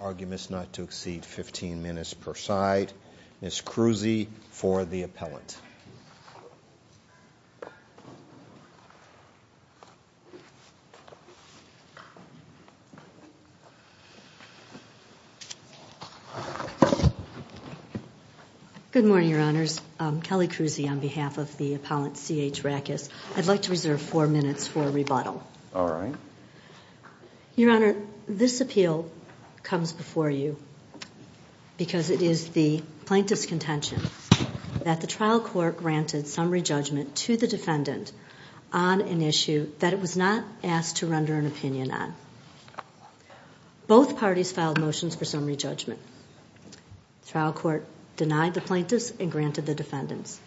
Arguments not to exceed 15 minutes per side. Ms. Kruse for the appellate. Good morning, Your Honors. Kelly Kruse on behalf of the appellant C.H. Raches. I'd like to reserve four minutes for rebuttal. All right. Your Honor, this appeal comes before you because it is the plaintiff's contention that the trial court granted summary judgment to the defendant on an issue that it was not asked to render an opinion on. Both parties filed motions for summary judgment. The trial court denied the plaintiffs and granted the defendants.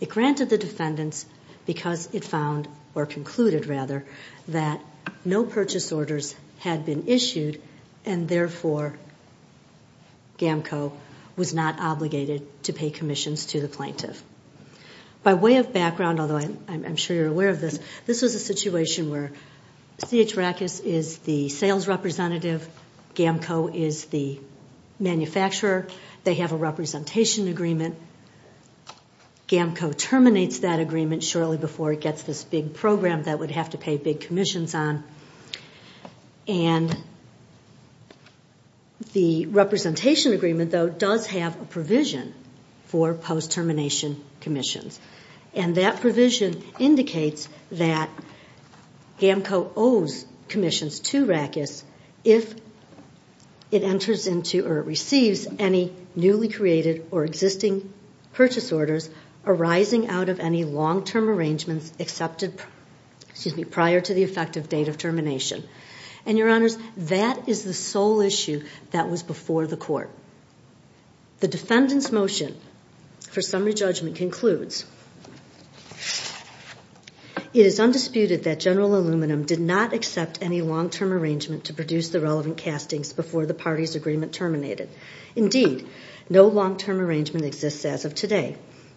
It granted the defendants because it found, or concluded rather, that no purchase orders had been issued and therefore GAMCO was not obligated to pay commissions to the plaintiff. By way of background, although I'm sure you're aware of this, this was a situation where C.H. Raches is the sales representative, GAMCO is the manufacturer. They have a representation agreement. GAMCO terminates that agreement shortly before it gets this big program that it would have to pay big commissions on. The representation agreement, though, does have a provision for post-termination commissions. That provision indicates that GAMCO owes commissions to Raches if it enters into or receives any newly created or existing purchase orders arising out of any long-term arrangements prior to the effective date of termination. Your Honors, that is the sole issue that was before the court. The defendant's motion for summary judgment concludes, It is undisputed that General Aluminum did not accept any long-term arrangement to produce the relevant castings before the party's agreement terminated. Indeed, no long-term arrangement exists as of today.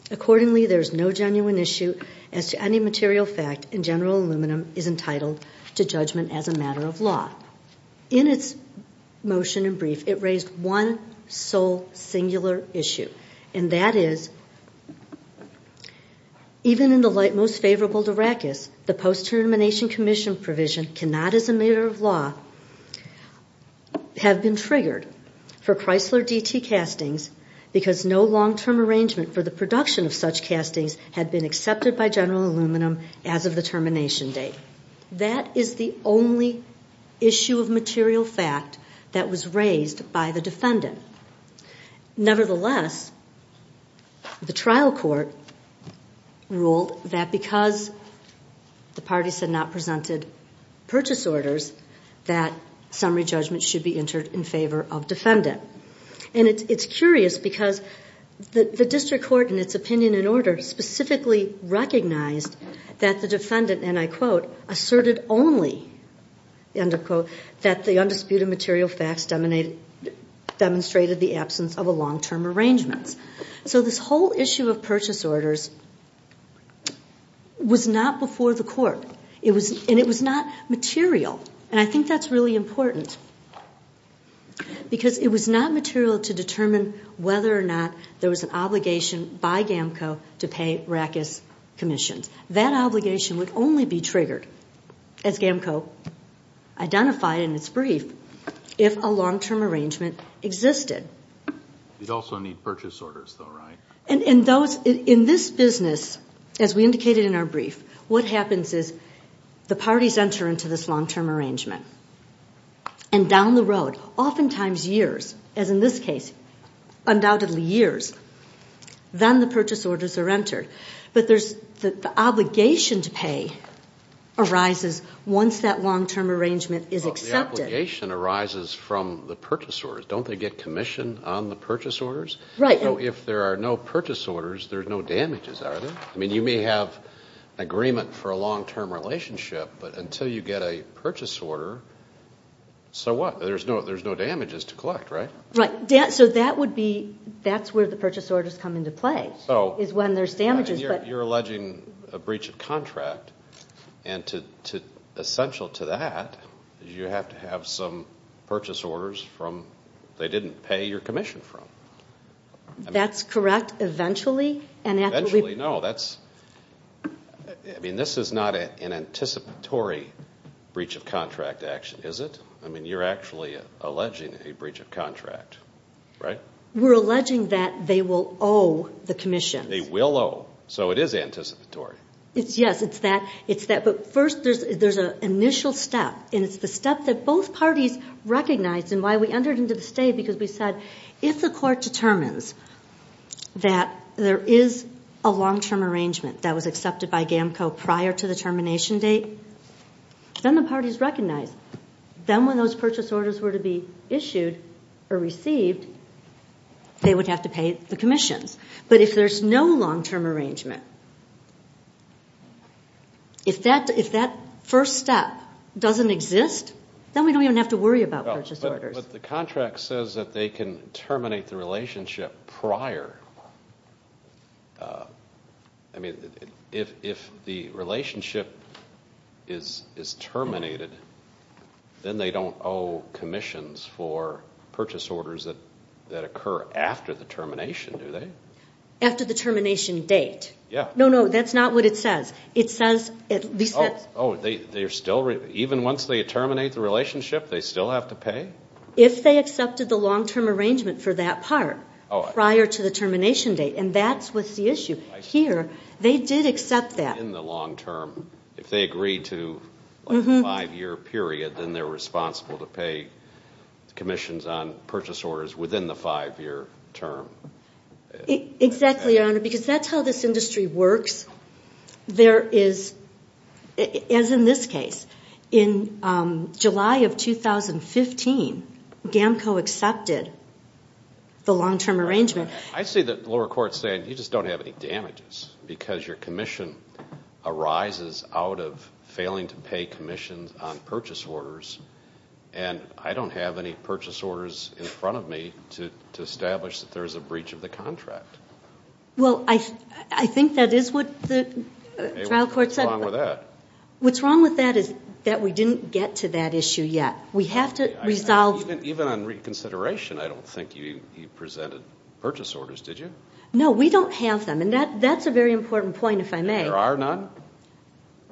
Accordingly, there is no genuine issue as to any material fact, and General Aluminum is entitled to judgment as a matter of law. In its motion and brief, it raised one sole singular issue, and that is, Even in the light most favorable to Raches, the post-termination commission provision cannot, as a matter of law, have been triggered for Chrysler DT castings because no long-term arrangement for the production of such castings had been accepted by General Aluminum as of the termination date. That is the only issue of material fact that was raised by the defendant. Nevertheless, the trial court ruled that because the parties had not presented purchase orders, that summary judgment should be entered in favor of defendant. And it's curious because the district court, in its opinion and order, specifically recognized that the defendant, and I quote, asserted only, end of quote, that the undisputed material facts demonstrated the absence of a long-term arrangement. So this whole issue of purchase orders was not before the court, and it was not material. And I think that's really important. Because it was not material to determine whether or not there was an obligation by GAMCO to pay Raches commissions. That obligation would only be triggered, as GAMCO identified in its brief, if a long-term arrangement existed. You'd also need purchase orders, though, right? In this business, as we indicated in our brief, what happens is the parties enter into this long-term arrangement. And down the road, oftentimes years, as in this case, undoubtedly years, then the purchase orders are entered. But the obligation to pay arises once that long-term arrangement is accepted. The obligation arises from the purchase orders. Don't they get commission on the purchase orders? Right. So if there are no purchase orders, there's no damages, are there? I mean, you may have agreement for a long-term relationship, but until you get a purchase order, so what? There's no damages to collect, right? Right. So that's where the purchase orders come into play, is when there's damages. You're alleging a breach of contract. And essential to that is you have to have some purchase orders they didn't pay your commission from. That's correct, eventually. Eventually, no. I mean, this is not an anticipatory breach of contract action, is it? I mean, you're actually alleging a breach of contract, right? We're alleging that they will owe the commission. They will owe. So it is anticipatory. Yes, it's that, but first there's an initial step, and it's the step that both parties recognized and why we entered into the state, because we said if the court determines that there is a long-term arrangement that was accepted by GAMCO prior to the termination date, then the parties recognize. Then when those purchase orders were to be issued or received, they would have to pay the commissions. But if there's no long-term arrangement, if that first step doesn't exist, then we don't even have to worry about purchase orders. But the contract says that they can terminate the relationship prior. I mean, if the relationship is terminated, then they don't owe commissions for purchase orders that occur after the termination, do they? After the termination date. Yeah. No, no, that's not what it says. It says at least that's... Oh, even once they terminate the relationship, they still have to pay? If they accepted the long-term arrangement for that part prior to the termination date, and that's what's the issue. Here, they did accept that. In the long term, if they agreed to a five-year period, then they're responsible to pay commissions on purchase orders within the five-year term. Exactly, Your Honor, because that's how this industry works. There is, as in this case, in July of 2015, GAMCO accepted the long-term arrangement. I see the lower court saying you just don't have any damages because your commission arises out of failing to pay commissions on purchase orders, and I don't have any purchase orders in front of me to establish that there's a breach of the contract. Well, I think that is what the trial court said. What's wrong with that? What's wrong with that is that we didn't get to that issue yet. We have to resolve... Even on reconsideration, I don't think you presented purchase orders, did you? No, we don't have them, and that's a very important point, if I may. There are none?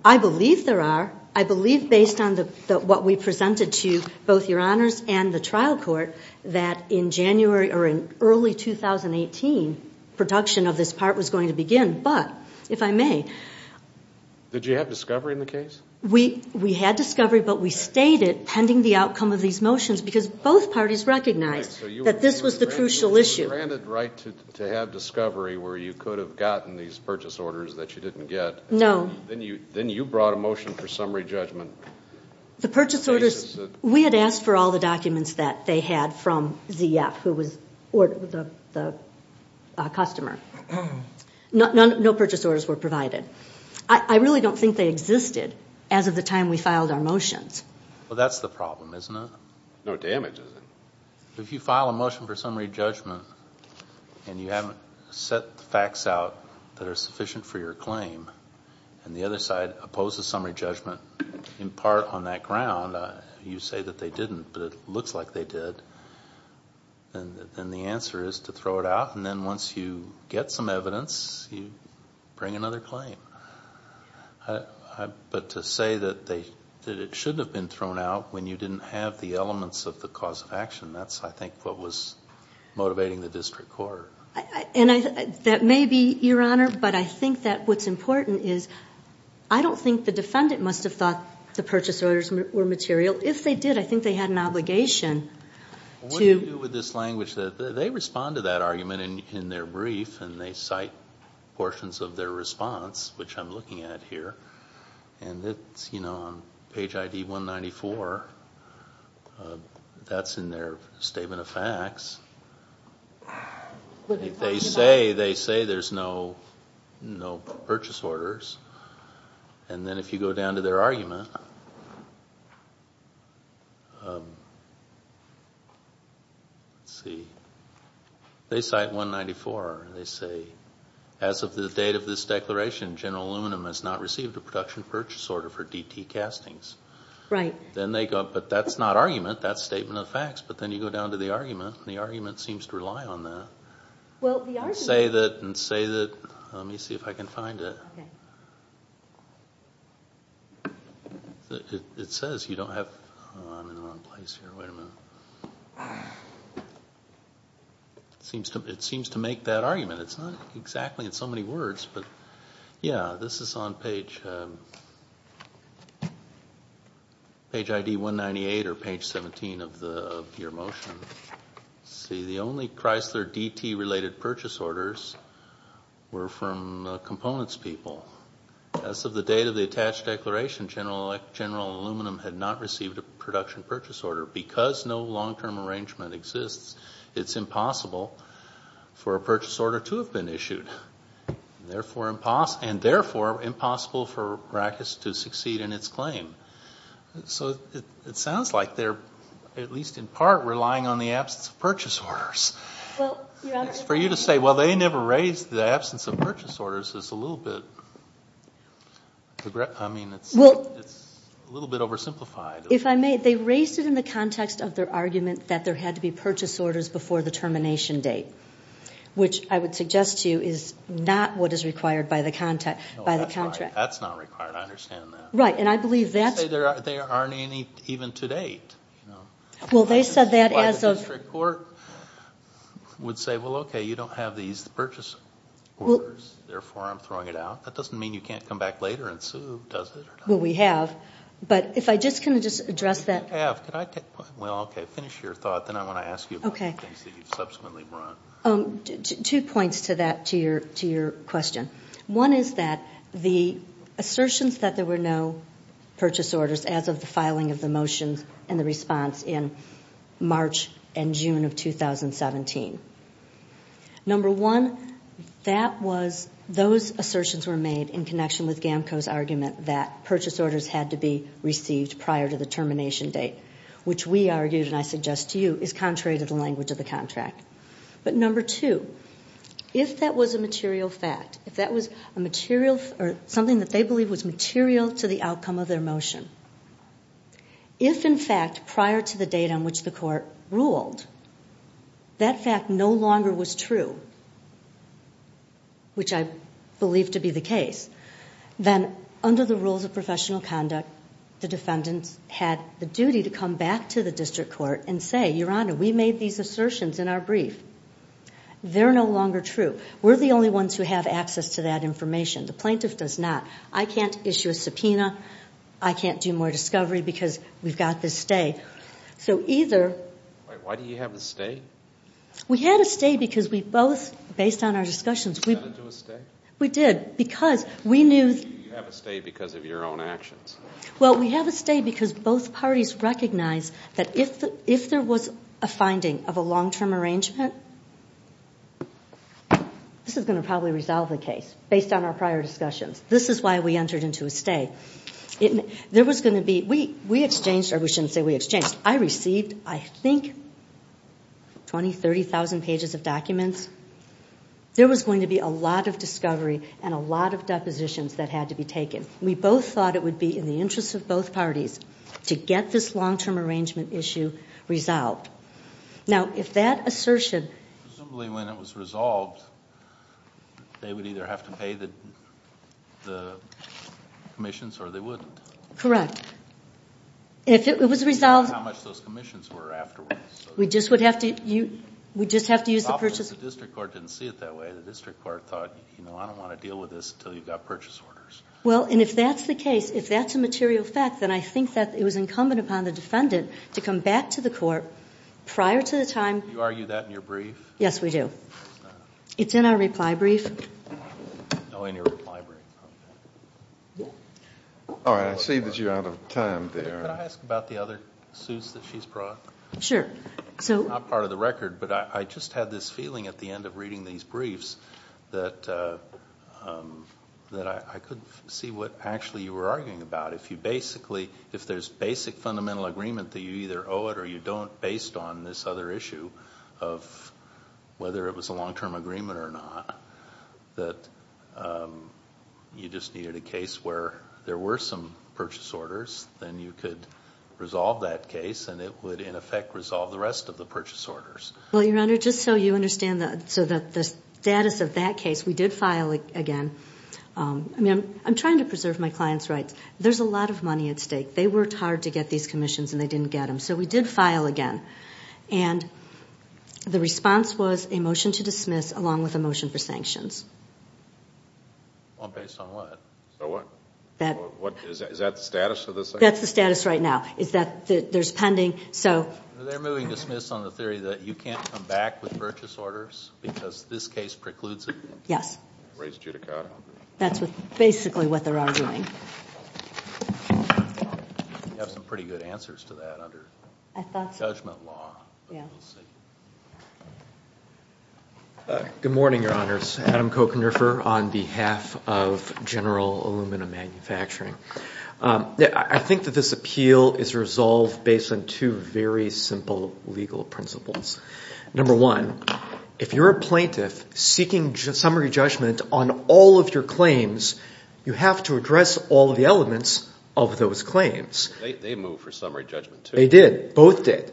I believe there are. I believe, based on what we presented to both Your Honors and the trial court, that in early 2018, production of this part was going to begin, but, if I may... Did you have discovery in the case? We had discovery, but we stayed it pending the outcome of these motions because both parties recognized that this was the crucial issue. So you were granted the right to have discovery where you could have gotten these purchase orders that you didn't get. No. Then you brought a motion for summary judgment. The purchase orders, we had asked for all the documents that they had from ZF, who was the customer. No purchase orders were provided. I really don't think they existed as of the time we filed our motions. Well, that's the problem, isn't it? No damage, is it? If you file a motion for summary judgment and you haven't set the facts out that are sufficient for your claim and the other side opposes summary judgment in part on that ground, you say that they didn't, but it looks like they did, then the answer is to throw it out, and then once you get some evidence, you bring another claim. But to say that it shouldn't have been thrown out when you didn't have the elements of the cause of action, that's, I think, what was motivating the district court. That may be, Your Honor, but I think that what's important is I don't think the defendant must have thought the purchase orders were material. If they did, I think they had an obligation to... What do you do with this language? They respond to that argument in their brief and they cite portions of their response, which I'm looking at here. And it's on page ID 194. That's in their statement of facts. They say there's no purchase orders, and then if you go down to their argument... Let's see. They cite 194. They say, as of the date of this declaration, General Aluminum has not received a production purchase order for DT castings. But that's not argument. That's statement of facts. But then you go down to the argument, and the argument seems to rely on that. And say that... Let me see if I can find it. It says you don't have... I'm in the wrong place here. Wait a minute. It seems to make that argument. It's not exactly in so many words, but... Yeah, this is on page ID 198 or page 17 of your motion. Let's see. The only Chrysler DT-related purchase orders were from components people. As of the date of the attached declaration, General Aluminum had not received a production purchase order. Because no long-term arrangement exists, it's impossible for a purchase order to have been issued. And therefore, impossible for Rackus to succeed in its claim. So it sounds like they're, at least in part, relying on the absence of purchase orders. Well, Your Honor... For you to say, well, they never raised the absence of purchase orders is a little bit... I mean, it's a little bit oversimplified. If I may, they raised it in the context of their argument that there had to be purchase orders before the termination date, which I would suggest to you is not what is required by the contract. No, that's not required. I understand that. Right, and I believe that... They say there aren't any even to date. Well, they said that as of... That's why the district court would say, well, okay, you don't have these purchase orders, therefore I'm throwing it out. That doesn't mean you can't come back later and sue, does it? Well, we have. But if I just can address that... If you have, could I take... Well, okay, finish your thought, then I want to ask you about the things that you've subsequently brought. Two points to that, to your question. One is that the assertions that there were no purchase orders as of the filing of the motions and the response in March and June of 2017. Number one, that was... had to be received prior to the termination date, which we argued, and I suggest to you, is contrary to the language of the contract. But number two, if that was a material fact, if that was something that they believed was material to the outcome of their motion, if, in fact, prior to the date on which the court ruled, that fact no longer was true, which I believe to be the case, then under the rules of professional conduct, the defendants had the duty to come back to the district court and say, Your Honor, we made these assertions in our brief. They're no longer true. We're the only ones who have access to that information. The plaintiff does not. I can't issue a subpoena. I can't do more discovery because we've got this stay. So either... Why do you have a stay? We had a stay because we both, based on our discussions... You got into a stay? We did because we knew... You have a stay because of your own actions. Well, we have a stay because both parties recognize that if there was a finding of a long-term arrangement, this is going to probably resolve the case based on our prior discussions. This is why we entered into a stay. There was going to be... We exchanged, or we shouldn't say we exchanged. I received, I think, 20,000, 30,000 pages of documents. There was going to be a lot of discovery and a lot of depositions that had to be taken. We both thought it would be in the interest of both parties to get this long-term arrangement issue resolved. Now, if that assertion... Presumably, when it was resolved, they would either have to pay the commissions or they wouldn't. Correct. If it was resolved... How much those commissions were afterwards. We just would have to use... The district court didn't see it that way. The district court thought, you know, I don't want to deal with this until you've got purchase orders. Well, and if that's the case, if that's a material fact, then I think that it was incumbent upon the defendant to come back to the court prior to the time... Do you argue that in your brief? Yes, we do. It's in our reply brief. Oh, in your reply brief. All right. I see that you're out of time there. Could I ask about the other suits that she's brought? Sure. They're not part of the record, but I just had this feeling at the end of reading these briefs that I could see what actually you were arguing about. If you basically... If there's basic fundamental agreement that you either owe it or you don't, based on this other issue of whether it was a long-term agreement or not, that you just needed a case where there were some purchase orders, then you could resolve that case and it would, in effect, resolve the rest of the purchase orders. Well, Your Honor, just so you understand the status of that case, we did file again. I'm trying to preserve my clients' rights. There's a lot of money at stake. They worked hard to get these commissions and they didn't get them, so we did file again. And the response was a motion to dismiss along with a motion for sanctions. Based on what? So what? Is that the status of this? That's the status right now, is that there's pending... They're moving to dismiss on the theory that you can't come back with purchase orders because this case precludes it? Yes. Raise judicata. That's basically what they're arguing. You have some pretty good answers to that under judgment law, but we'll see. Good morning, Your Honors. Adam Kochenrefer on behalf of General Aluminum Manufacturing. I think that this appeal is resolved based on two very simple legal principles. Number one, if you're a plaintiff seeking summary judgment on all of your claims, you have to address all of the elements of those claims. They moved for summary judgment, too. They did. Both did.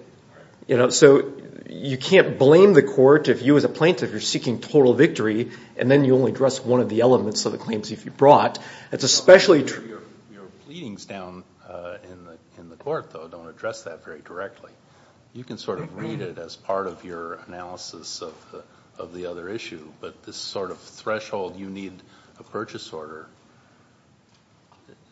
So you can't blame the court if you as a plaintiff are seeking total victory and then you only address one of the elements of the claims if you brought. Your pleadings down in the court, though, don't address that very directly. You can sort of read it as part of your analysis of the other issue, but this sort of threshold you need a purchase order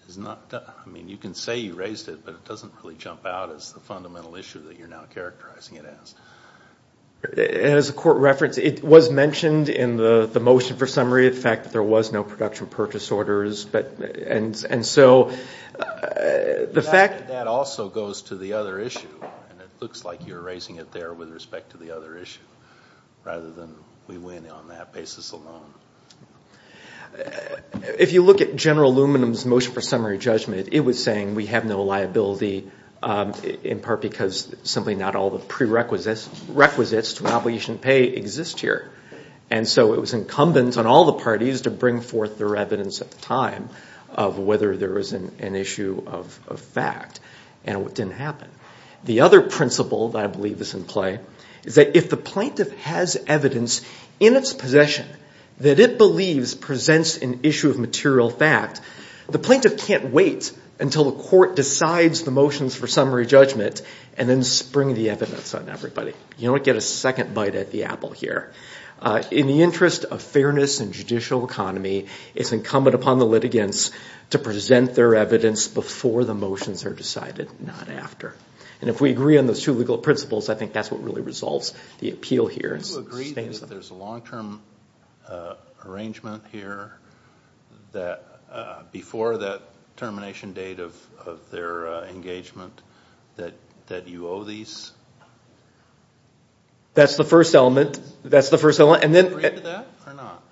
is not done. I mean, you can say you raised it, but it doesn't really jump out as the fundamental issue that you're now characterizing it as. As the court referenced, it was mentioned in the motion for summary, the fact that there was no production purchase orders. And so the fact that that also goes to the other issue, and it looks like you're raising it there with respect to the other issue rather than we win on that basis alone. If you look at General Luminum's motion for summary judgment, it was saying we have no liability in part because simply not all the prerequisites to an obligation to pay exist here. And so it was incumbent on all the parties to bring forth their evidence at the time of whether there was an issue of fact, and it didn't happen. The other principle that I believe is in play is that if the plaintiff has evidence in its possession that it believes presents an issue of material fact, the plaintiff can't wait until the court decides the motions for summary judgment and then spring the evidence on everybody. You don't get a second bite at the apple here. In the interest of fairness and judicial economy, it's incumbent upon the litigants to present their evidence before the motions are decided, not after. And if we agree on those two legal principles, I think that's what really resolves the appeal here. Do you agree that if there's a long-term arrangement here that before that termination date of their engagement that you owe these? That's the first element. Do you agree to that or not?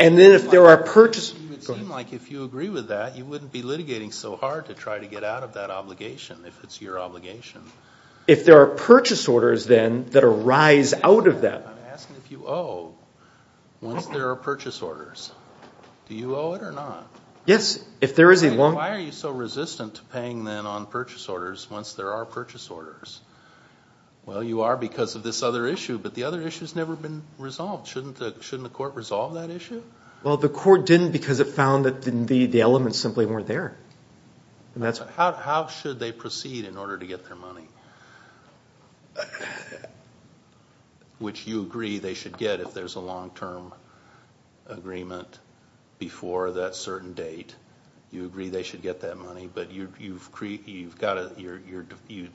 It would seem like if you agree with that, you wouldn't be litigating so hard to try to get out of that obligation if it's your obligation. If there are purchase orders then that arise out of that. I'm asking if you owe once there are purchase orders. Do you owe it or not? Yes, if there is a long- Why are you so resistant to paying then on purchase orders once there are purchase orders? Well, you are because of this other issue, but the other issue has never been resolved. Shouldn't the court resolve that issue? Well, the court didn't because it found that the elements simply weren't there. How should they proceed in order to get their money? Which you agree they should get if there's a long-term agreement before that certain date. You agree they should get that money, but you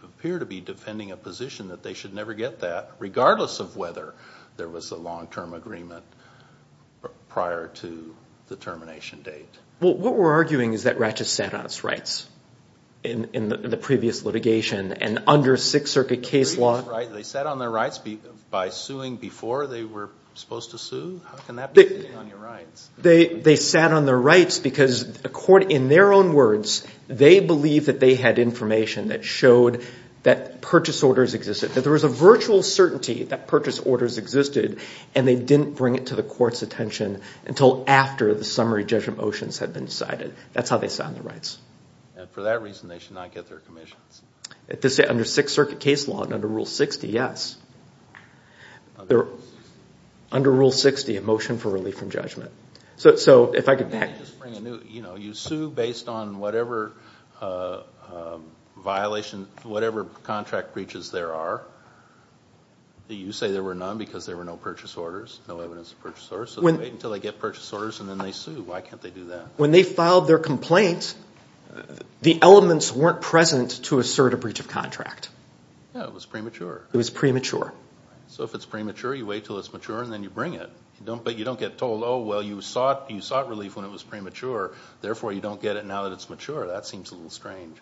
appear to be defending a position that they should never get that regardless of whether there was a long-term agreement prior to the termination date. What we're arguing is that Ratchett sat on its rights in the previous litigation and under Sixth Circuit case law- They sat on their rights by suing before they were supposed to sue? How can that be sitting on your rights? They sat on their rights because in their own words, they believed that they had information that showed that purchase orders existed, that there was a virtual certainty that purchase orders existed and they didn't bring it to the court's attention until after the summary judgment motions had been decided. That's how they sat on their rights. And for that reason, they should not get their commissions? Under Sixth Circuit case law and under Rule 60, yes. Under Rule 60? Under Rule 60, a motion for relief from judgment. So if I could back- You sue based on whatever violation, whatever contract breaches there are. You say there were none because there were no purchase orders, no evidence of purchase orders. So they wait until they get purchase orders and then they sue. Why can't they do that? When they filed their complaint, the elements weren't present to assert a breach of contract. Yeah, it was premature. It was premature. So if it's premature, you wait until it's mature and then you bring it. But you don't get told, oh, well, you sought relief when it was premature. Therefore, you don't get it now that it's mature. That seems a little strange.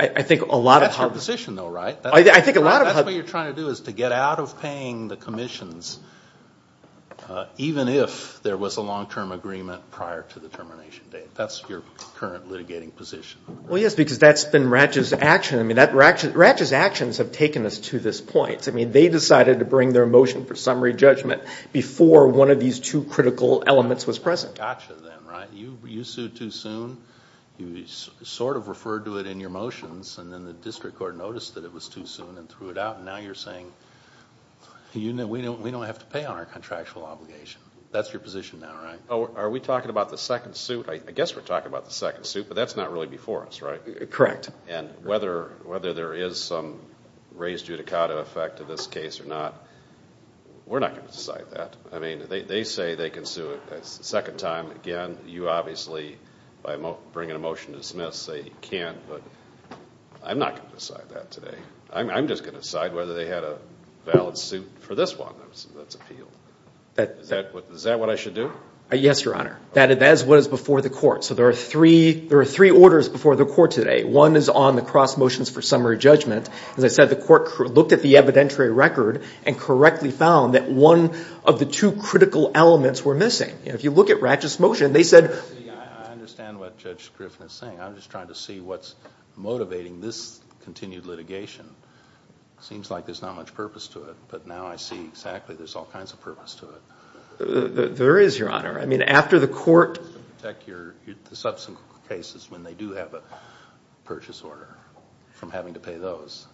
I think a lot of- That's your position though, right? I think a lot of- That's what you're trying to do is to get out of paying the commissions even if there was a long-term agreement prior to the termination date. That's your current litigating position. Well, yes, because that's been Ratchett's action. I mean, Ratchett's actions have taken us to this point. I mean, they decided to bring their motion for summary judgment before one of these two critical elements was present. Gotcha then, right? You sued too soon. You sort of referred to it in your motions. And then the district court noticed that it was too soon and threw it out. And now you're saying, we don't have to pay on our contractual obligation. That's your position now, right? Are we talking about the second suit? I guess we're talking about the second suit, but that's not really before us, right? Correct. And whether there is some res judicata effect to this case or not, we're not going to decide that. I mean, they say they can sue a second time. Again, you obviously, by bringing a motion to dismiss, say you can't. But I'm not going to decide that today. I'm just going to decide whether they had a valid suit for this one that's appealed. Is that what I should do? Yes, Your Honor. That is what is before the court. So there are three orders before the court today. One is on the cross motions for summary judgment. As I said, the court looked at the evidentiary record and correctly found that one of the two critical elements were missing. If you look at Ratchett's motion, they said- I understand what Judge Griffin is saying. I'm just trying to see what's motivating this continued litigation. It seems like there's not much purpose to it, but now I see exactly there's all kinds of purpose to it. There is, Your Honor. I mean, after the court- To protect the subsequent cases when they do have a purchase order from having to pay those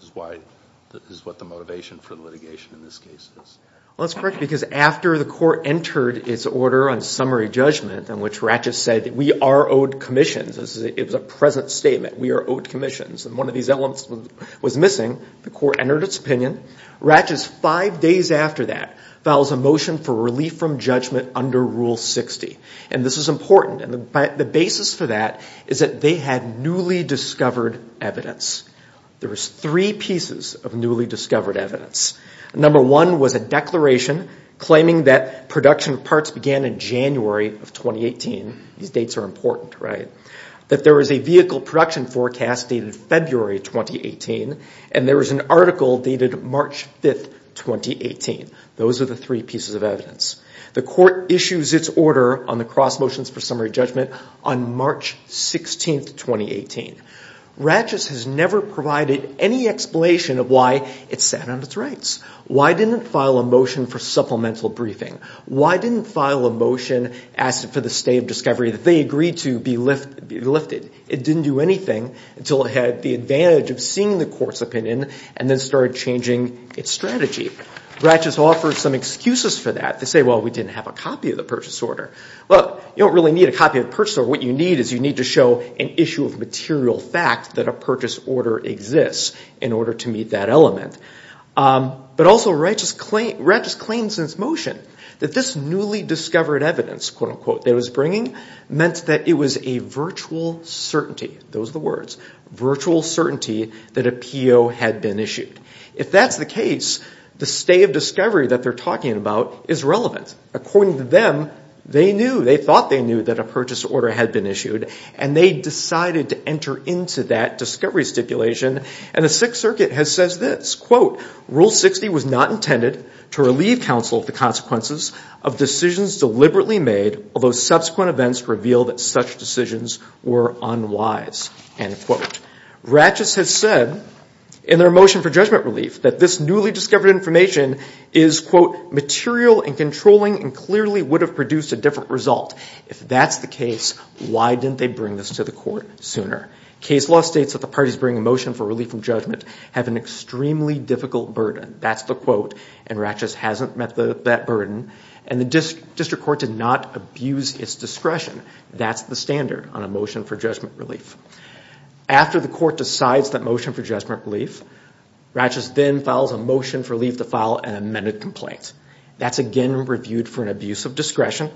is what the motivation for litigation in this case is. Well, that's correct because after the court entered its order on summary judgment in which Ratchett said we are owed commissions, it was a present statement, we are owed commissions, and one of these elements was missing, the court entered its opinion. Ratchett, five days after that, files a motion for relief from judgment under Rule 60. And this is important. And the basis for that is that they had newly discovered evidence. There was three pieces of newly discovered evidence. Number one was a declaration claiming that production of parts began in January of 2018. These dates are important, right? That there was a vehicle production forecast dated February of 2018, and there was an article dated March 5, 2018. Those are the three pieces of evidence. The court issues its order on the cross motions for summary judgment on March 16, 2018. Ratchett has never provided any explanation of why it sat on its rights. Why didn't it file a motion for supplemental briefing? Why didn't it file a motion asking for the state of discovery that they agreed to be lifted? It didn't do anything until it had the advantage of seeing the court's opinion and then started changing its strategy. Ratchett offers some excuses for that. They say, well, we didn't have a copy of the purchase order. Well, you don't really need a copy of the purchase order. What you need is you need to show an issue of material fact that a purchase order exists in order to meet that element. But also Ratchett just claims in its motion that this newly discovered evidence, quote, unquote, that it was bringing meant that it was a virtual certainty. Those are the words. Virtual certainty that a PO had been issued. If that's the case, the state of discovery that they're talking about is relevant. According to them, they knew, they thought they knew that a purchase order had been issued, and they decided to enter into that discovery stipulation. And the Sixth Circuit has said this, quote, Rule 60 was not intended to relieve counsel of the consequences of decisions deliberately made, although subsequent events revealed that such decisions were unwise, end quote. Ratchett has said in their motion for judgment relief that this newly discovered information is, quote, material and controlling and clearly would have produced a different result. If that's the case, why didn't they bring this to the court sooner? Case law states that the parties bringing a motion for relief from judgment have an extremely difficult burden. That's the quote. And Ratchett hasn't met that burden. And the district court did not abuse its discretion. That's the standard on a motion for judgment relief. After the court decides that motion for judgment relief, Ratchett then files a motion for relief to file an amended complaint. That's again reviewed for an abuse of discretion.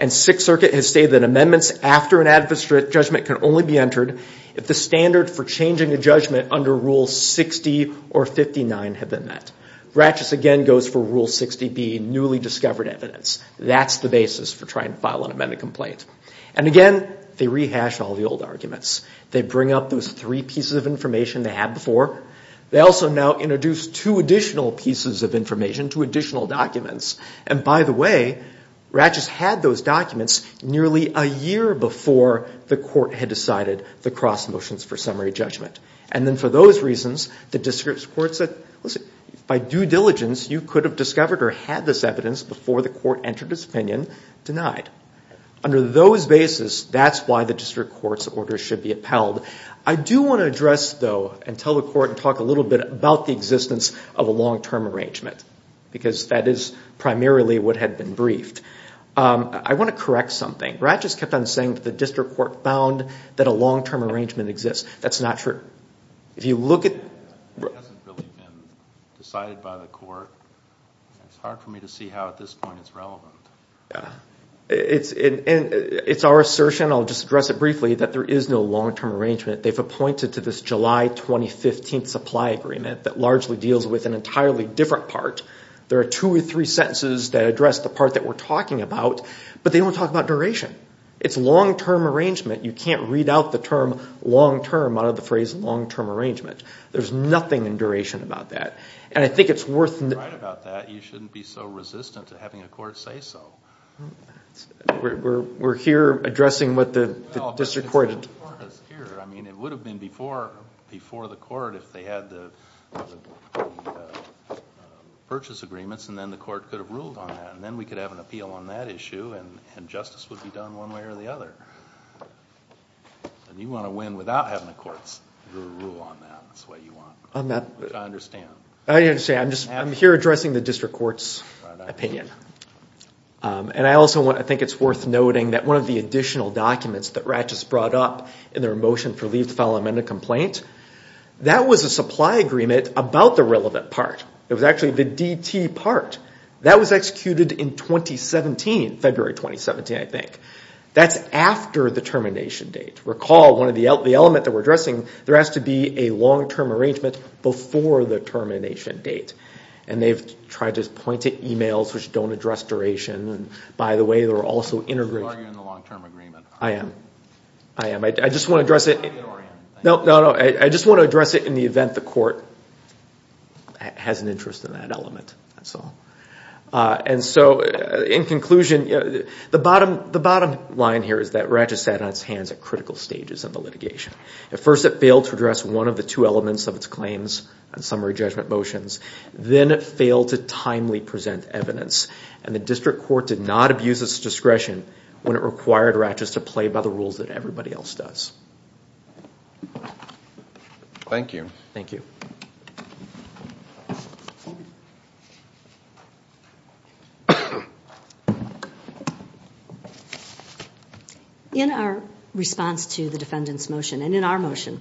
And Sixth Circuit has stated that amendments after an adverse judgment can only be entered if the standard for changing a judgment under Rule 60 or 59 have been met. Ratchett again goes for Rule 60B, newly discovered evidence. That's the basis for trying to file an amended complaint. And again, they rehash all the old arguments. They bring up those three pieces of information they had before. They also now introduce two additional pieces of information, two additional documents. And by the way, Ratchett had those documents nearly a year before the court had decided the cross motions for summary judgment. And then for those reasons, the district court said, listen, by due diligence, you could have discovered or had this evidence before the court entered its opinion, denied. Under those basis, that's why the district court's order should be upheld. I do want to address, though, and tell the court and talk a little bit about the existence of a long-term arrangement because that is primarily what had been briefed. I want to correct something. Ratchett's kept on saying that the district court found that a long-term arrangement exists. That's not true. It hasn't really been decided by the court. It's hard for me to see how at this point it's relevant. It's our assertion, I'll just address it briefly, that there is no long-term arrangement. They've appointed to this July 2015 supply agreement that largely deals with an entirely different part. There are two or three sentences that address the part that we're talking about, but they don't talk about duration. It's long-term arrangement. You can't read out the term long-term out of the phrase long-term arrangement. There's nothing in duration about that. And I think it's worth— You're right about that. You shouldn't be so resistant to having a court say so. We're here addressing what the district court— It would have been before the court if they had the purchase agreements, and then the court could have ruled on that, and then we could have an appeal on that issue, and justice would be done one way or the other. And you want to win without having the courts rule on that. That's what you want, which I understand. I understand. I'm here addressing the district court's opinion. And I also think it's worth noting that one of the additional documents that Ratches brought up in their motion for leave to file an amended complaint, that was a supply agreement about the relevant part. It was actually the DT part. That was executed in 2017, February 2017, I think. That's after the termination date. Recall one of the elements that we're addressing, there has to be a long-term arrangement before the termination date. And they've tried to point to emails which don't address duration. And by the way, there are also integration— So are you in the long-term agreement? I am. I am. I just want to address it— Or are you? I just want to address it in the event the court has an interest in that element. That's all. And so, in conclusion, the bottom line here is that Ratches sat on its hands at critical stages of the litigation. At first, it failed to address one of the two elements of its claims and summary judgment motions. Then it failed to timely present evidence. And the district court did not abuse its discretion when it required Ratches to play by the rules that everybody else does. Thank you. Thank you. Thank you. In our response to the defendant's motion, and in our motion,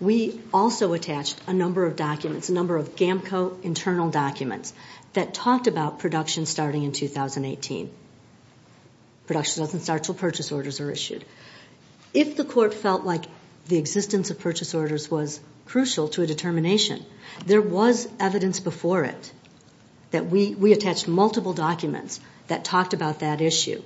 we also attached a number of documents, a number of GAMCO internal documents, that talked about production starting in 2018. Production doesn't start until purchase orders are issued. If the court felt like the existence of purchase orders was crucial to a determination, there was evidence before it that we attached multiple documents that talked about that issue.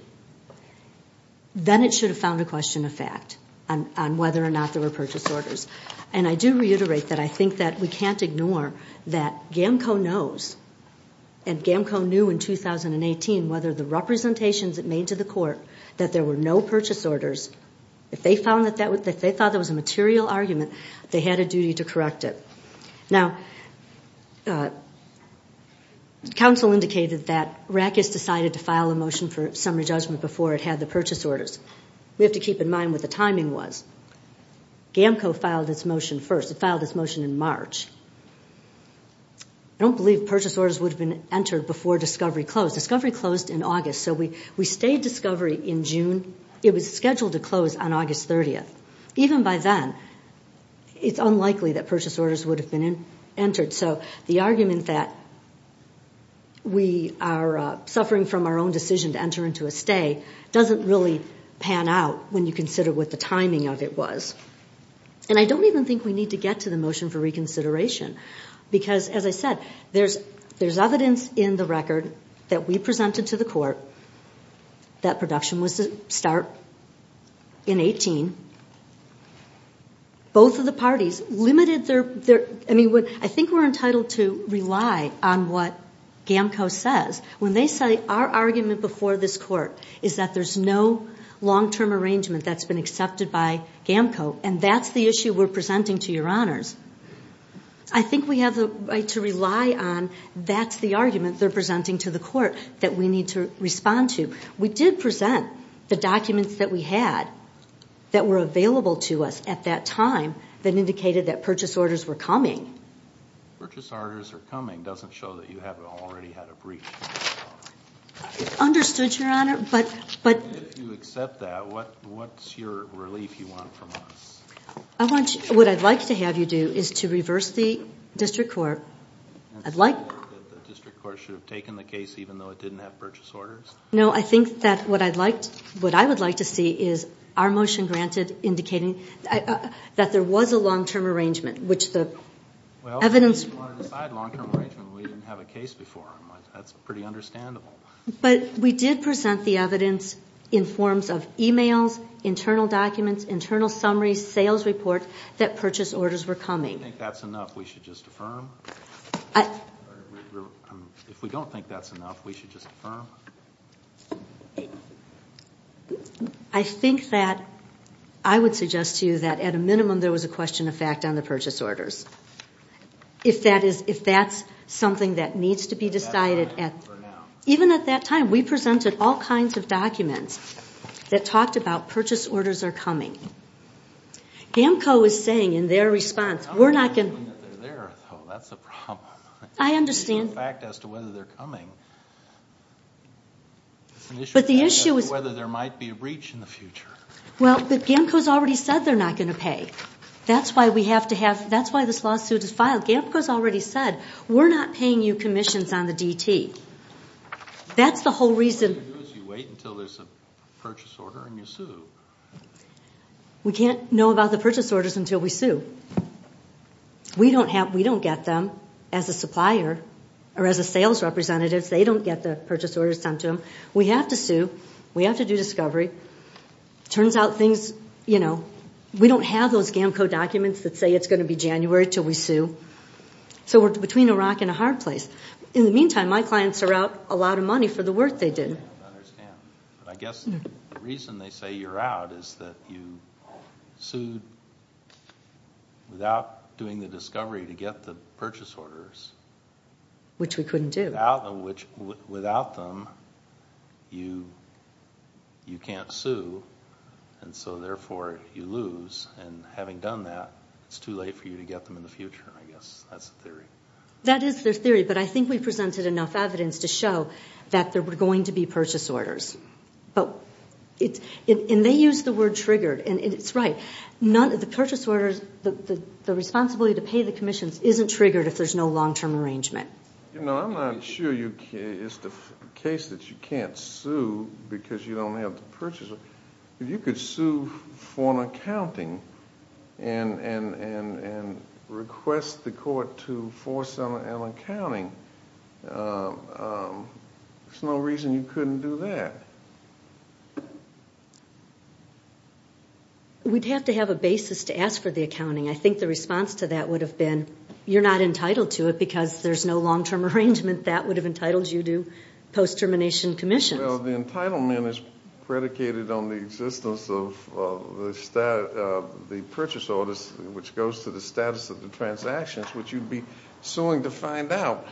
Then it should have found a question of fact on whether or not there were purchase orders. And I do reiterate that I think that we can't ignore that GAMCO knows, and GAMCO knew in 2018, whether the representations it made to the court, that there were no purchase orders. If they thought that was a material argument, they had a duty to correct it. Now, counsel indicated that Ratches decided to file a motion for summary judgment before it had the purchase orders. We have to keep in mind what the timing was. GAMCO filed its motion first. It filed its motion in March. I don't believe purchase orders would have been entered before discovery closed. Discovery closed in August, so we stayed discovery in June. It was scheduled to close on August 30th. Even by then, it's unlikely that purchase orders would have been entered. So the argument that we are suffering from our own decision to enter into a stay doesn't really pan out when you consider what the timing of it was. And I don't even think we need to get to the motion for reconsideration because, as I said, there's evidence in the record that we presented to the court that production was to start in 18. Both of the parties limited their... I think we're entitled to rely on what GAMCO says. When they say, our argument before this court is that there's no long-term arrangement that's been accepted by GAMCO, and that's the issue we're presenting to your honors, I think we have the right to rely on that's the argument they're presenting to the court that we need to respond to. We did present the documents that we had that were available to us at that time that indicated that purchase orders were coming. Purchase orders are coming doesn't show that you haven't already had a breach. Understood, your honor, but... If you accept that, what's your relief you want from us? What I'd like to have you do is to reverse the district court. I'd like... That the district court should have taken the case even though it didn't have purchase orders? No, I think that what I would like to see is our motion granted indicating that there was a long-term arrangement, which the evidence... Well, if you want to decide long-term arrangement, we didn't have a case before. That's pretty understandable. But we did present the evidence in forms of emails, internal documents, internal summaries, sales reports that purchase orders were coming. I think that's enough. We should just affirm? If we don't think that's enough, we should just affirm? I think that I would suggest to you that at a minimum there was a question of fact on the purchase orders. If that's something that needs to be decided... Even at that time, we presented all kinds of documents that talked about purchase orders are coming. GAMCO is saying in their response, we're not going to... I'm not saying that they're there, though. That's the problem. I understand. In fact, as to whether they're coming... But the issue is... Whether there might be a breach in the future. Well, but GAMCO's already said they're not going to pay. That's why we have to have... That's why this lawsuit is filed. GAMCO's already said, we're not paying you commissions on the DT. That's the whole reason... What you do is you wait until there's a purchase order, and you sue. We can't know about the purchase orders until we sue. We don't get them as a supplier or as a sales representative. They don't get the purchase orders sent to them. We have to sue. We have to do discovery. It turns out things... We don't have those GAMCO documents that say it's going to be January until we sue. So we're between a rock and a hard place. In the meantime, my clients are out a lot of money for the work they did. I understand. But I guess the reason they say you're out is that you sued without doing the discovery to get the purchase orders. Which we couldn't do. Without them, you can't sue, and so therefore you lose. Having done that, it's too late for you to get them in the future, I guess. That's the theory. That is their theory, but I think we presented enough evidence to show that there were going to be purchase orders. They use the word triggered, and it's right. The responsibility to pay the commissions isn't triggered if there's no long-term arrangement. I'm not sure it's the case that you can't sue because you don't have the purchase order. If you could sue for an accounting and request the court to force an accounting, there's no reason you couldn't do that. We'd have to have a basis to ask for the accounting. I think the response to that would have been, you're not entitled to it because there's no long-term arrangement. That would have entitled you to post-termination commissions. Well, the entitlement is predicated on the existence of the purchase orders, which goes to the status of the transactions, which you'd be suing to find out.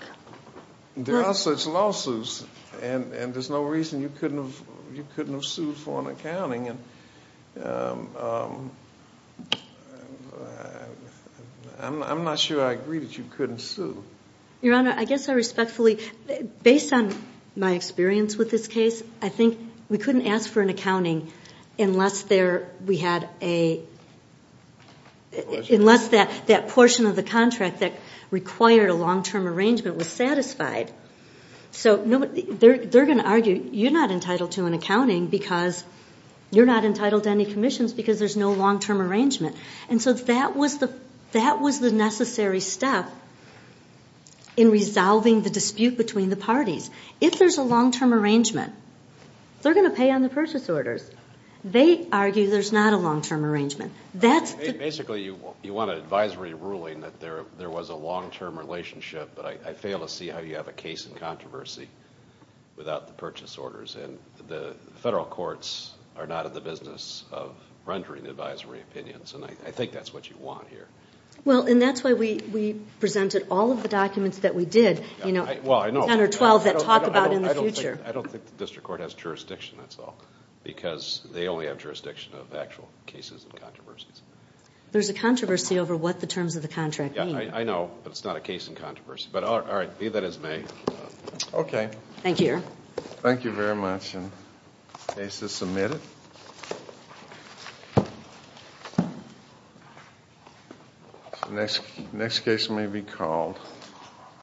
There are such lawsuits, and there's no reason you couldn't have sued for an accounting. I'm not sure I agree that you couldn't sue. Your Honor, I guess I respectfully... Based on my experience with this case, I think we couldn't ask for an accounting unless that portion of the contract that required a long-term arrangement was satisfied. So they're going to argue, you're not entitled to an accounting because you're not entitled to any commissions because there's no long-term arrangement. And so that was the necessary step in resolving the dispute between the parties. If there's a long-term arrangement, they're going to pay on the purchase orders. They argue there's not a long-term arrangement. Basically, you want an advisory ruling that there was a long-term relationship, but I fail to see how you have a case in controversy without the purchase orders. And the federal courts are not in the business of rendering advisory opinions, and I think that's what you want here. Well, and that's why we presented all of the documents that we did, 10 or 12 that talk about in the future. I don't think the district court has jurisdiction, that's all, because they only have jurisdiction of actual cases and controversies. There's a controversy over what the terms of the contract mean. Yeah, I know, but it's not a case in controversy. But all right, leave that as may. Okay. Thank you, Your Honor. Thank you very much, and the case is submitted. The next case may be called...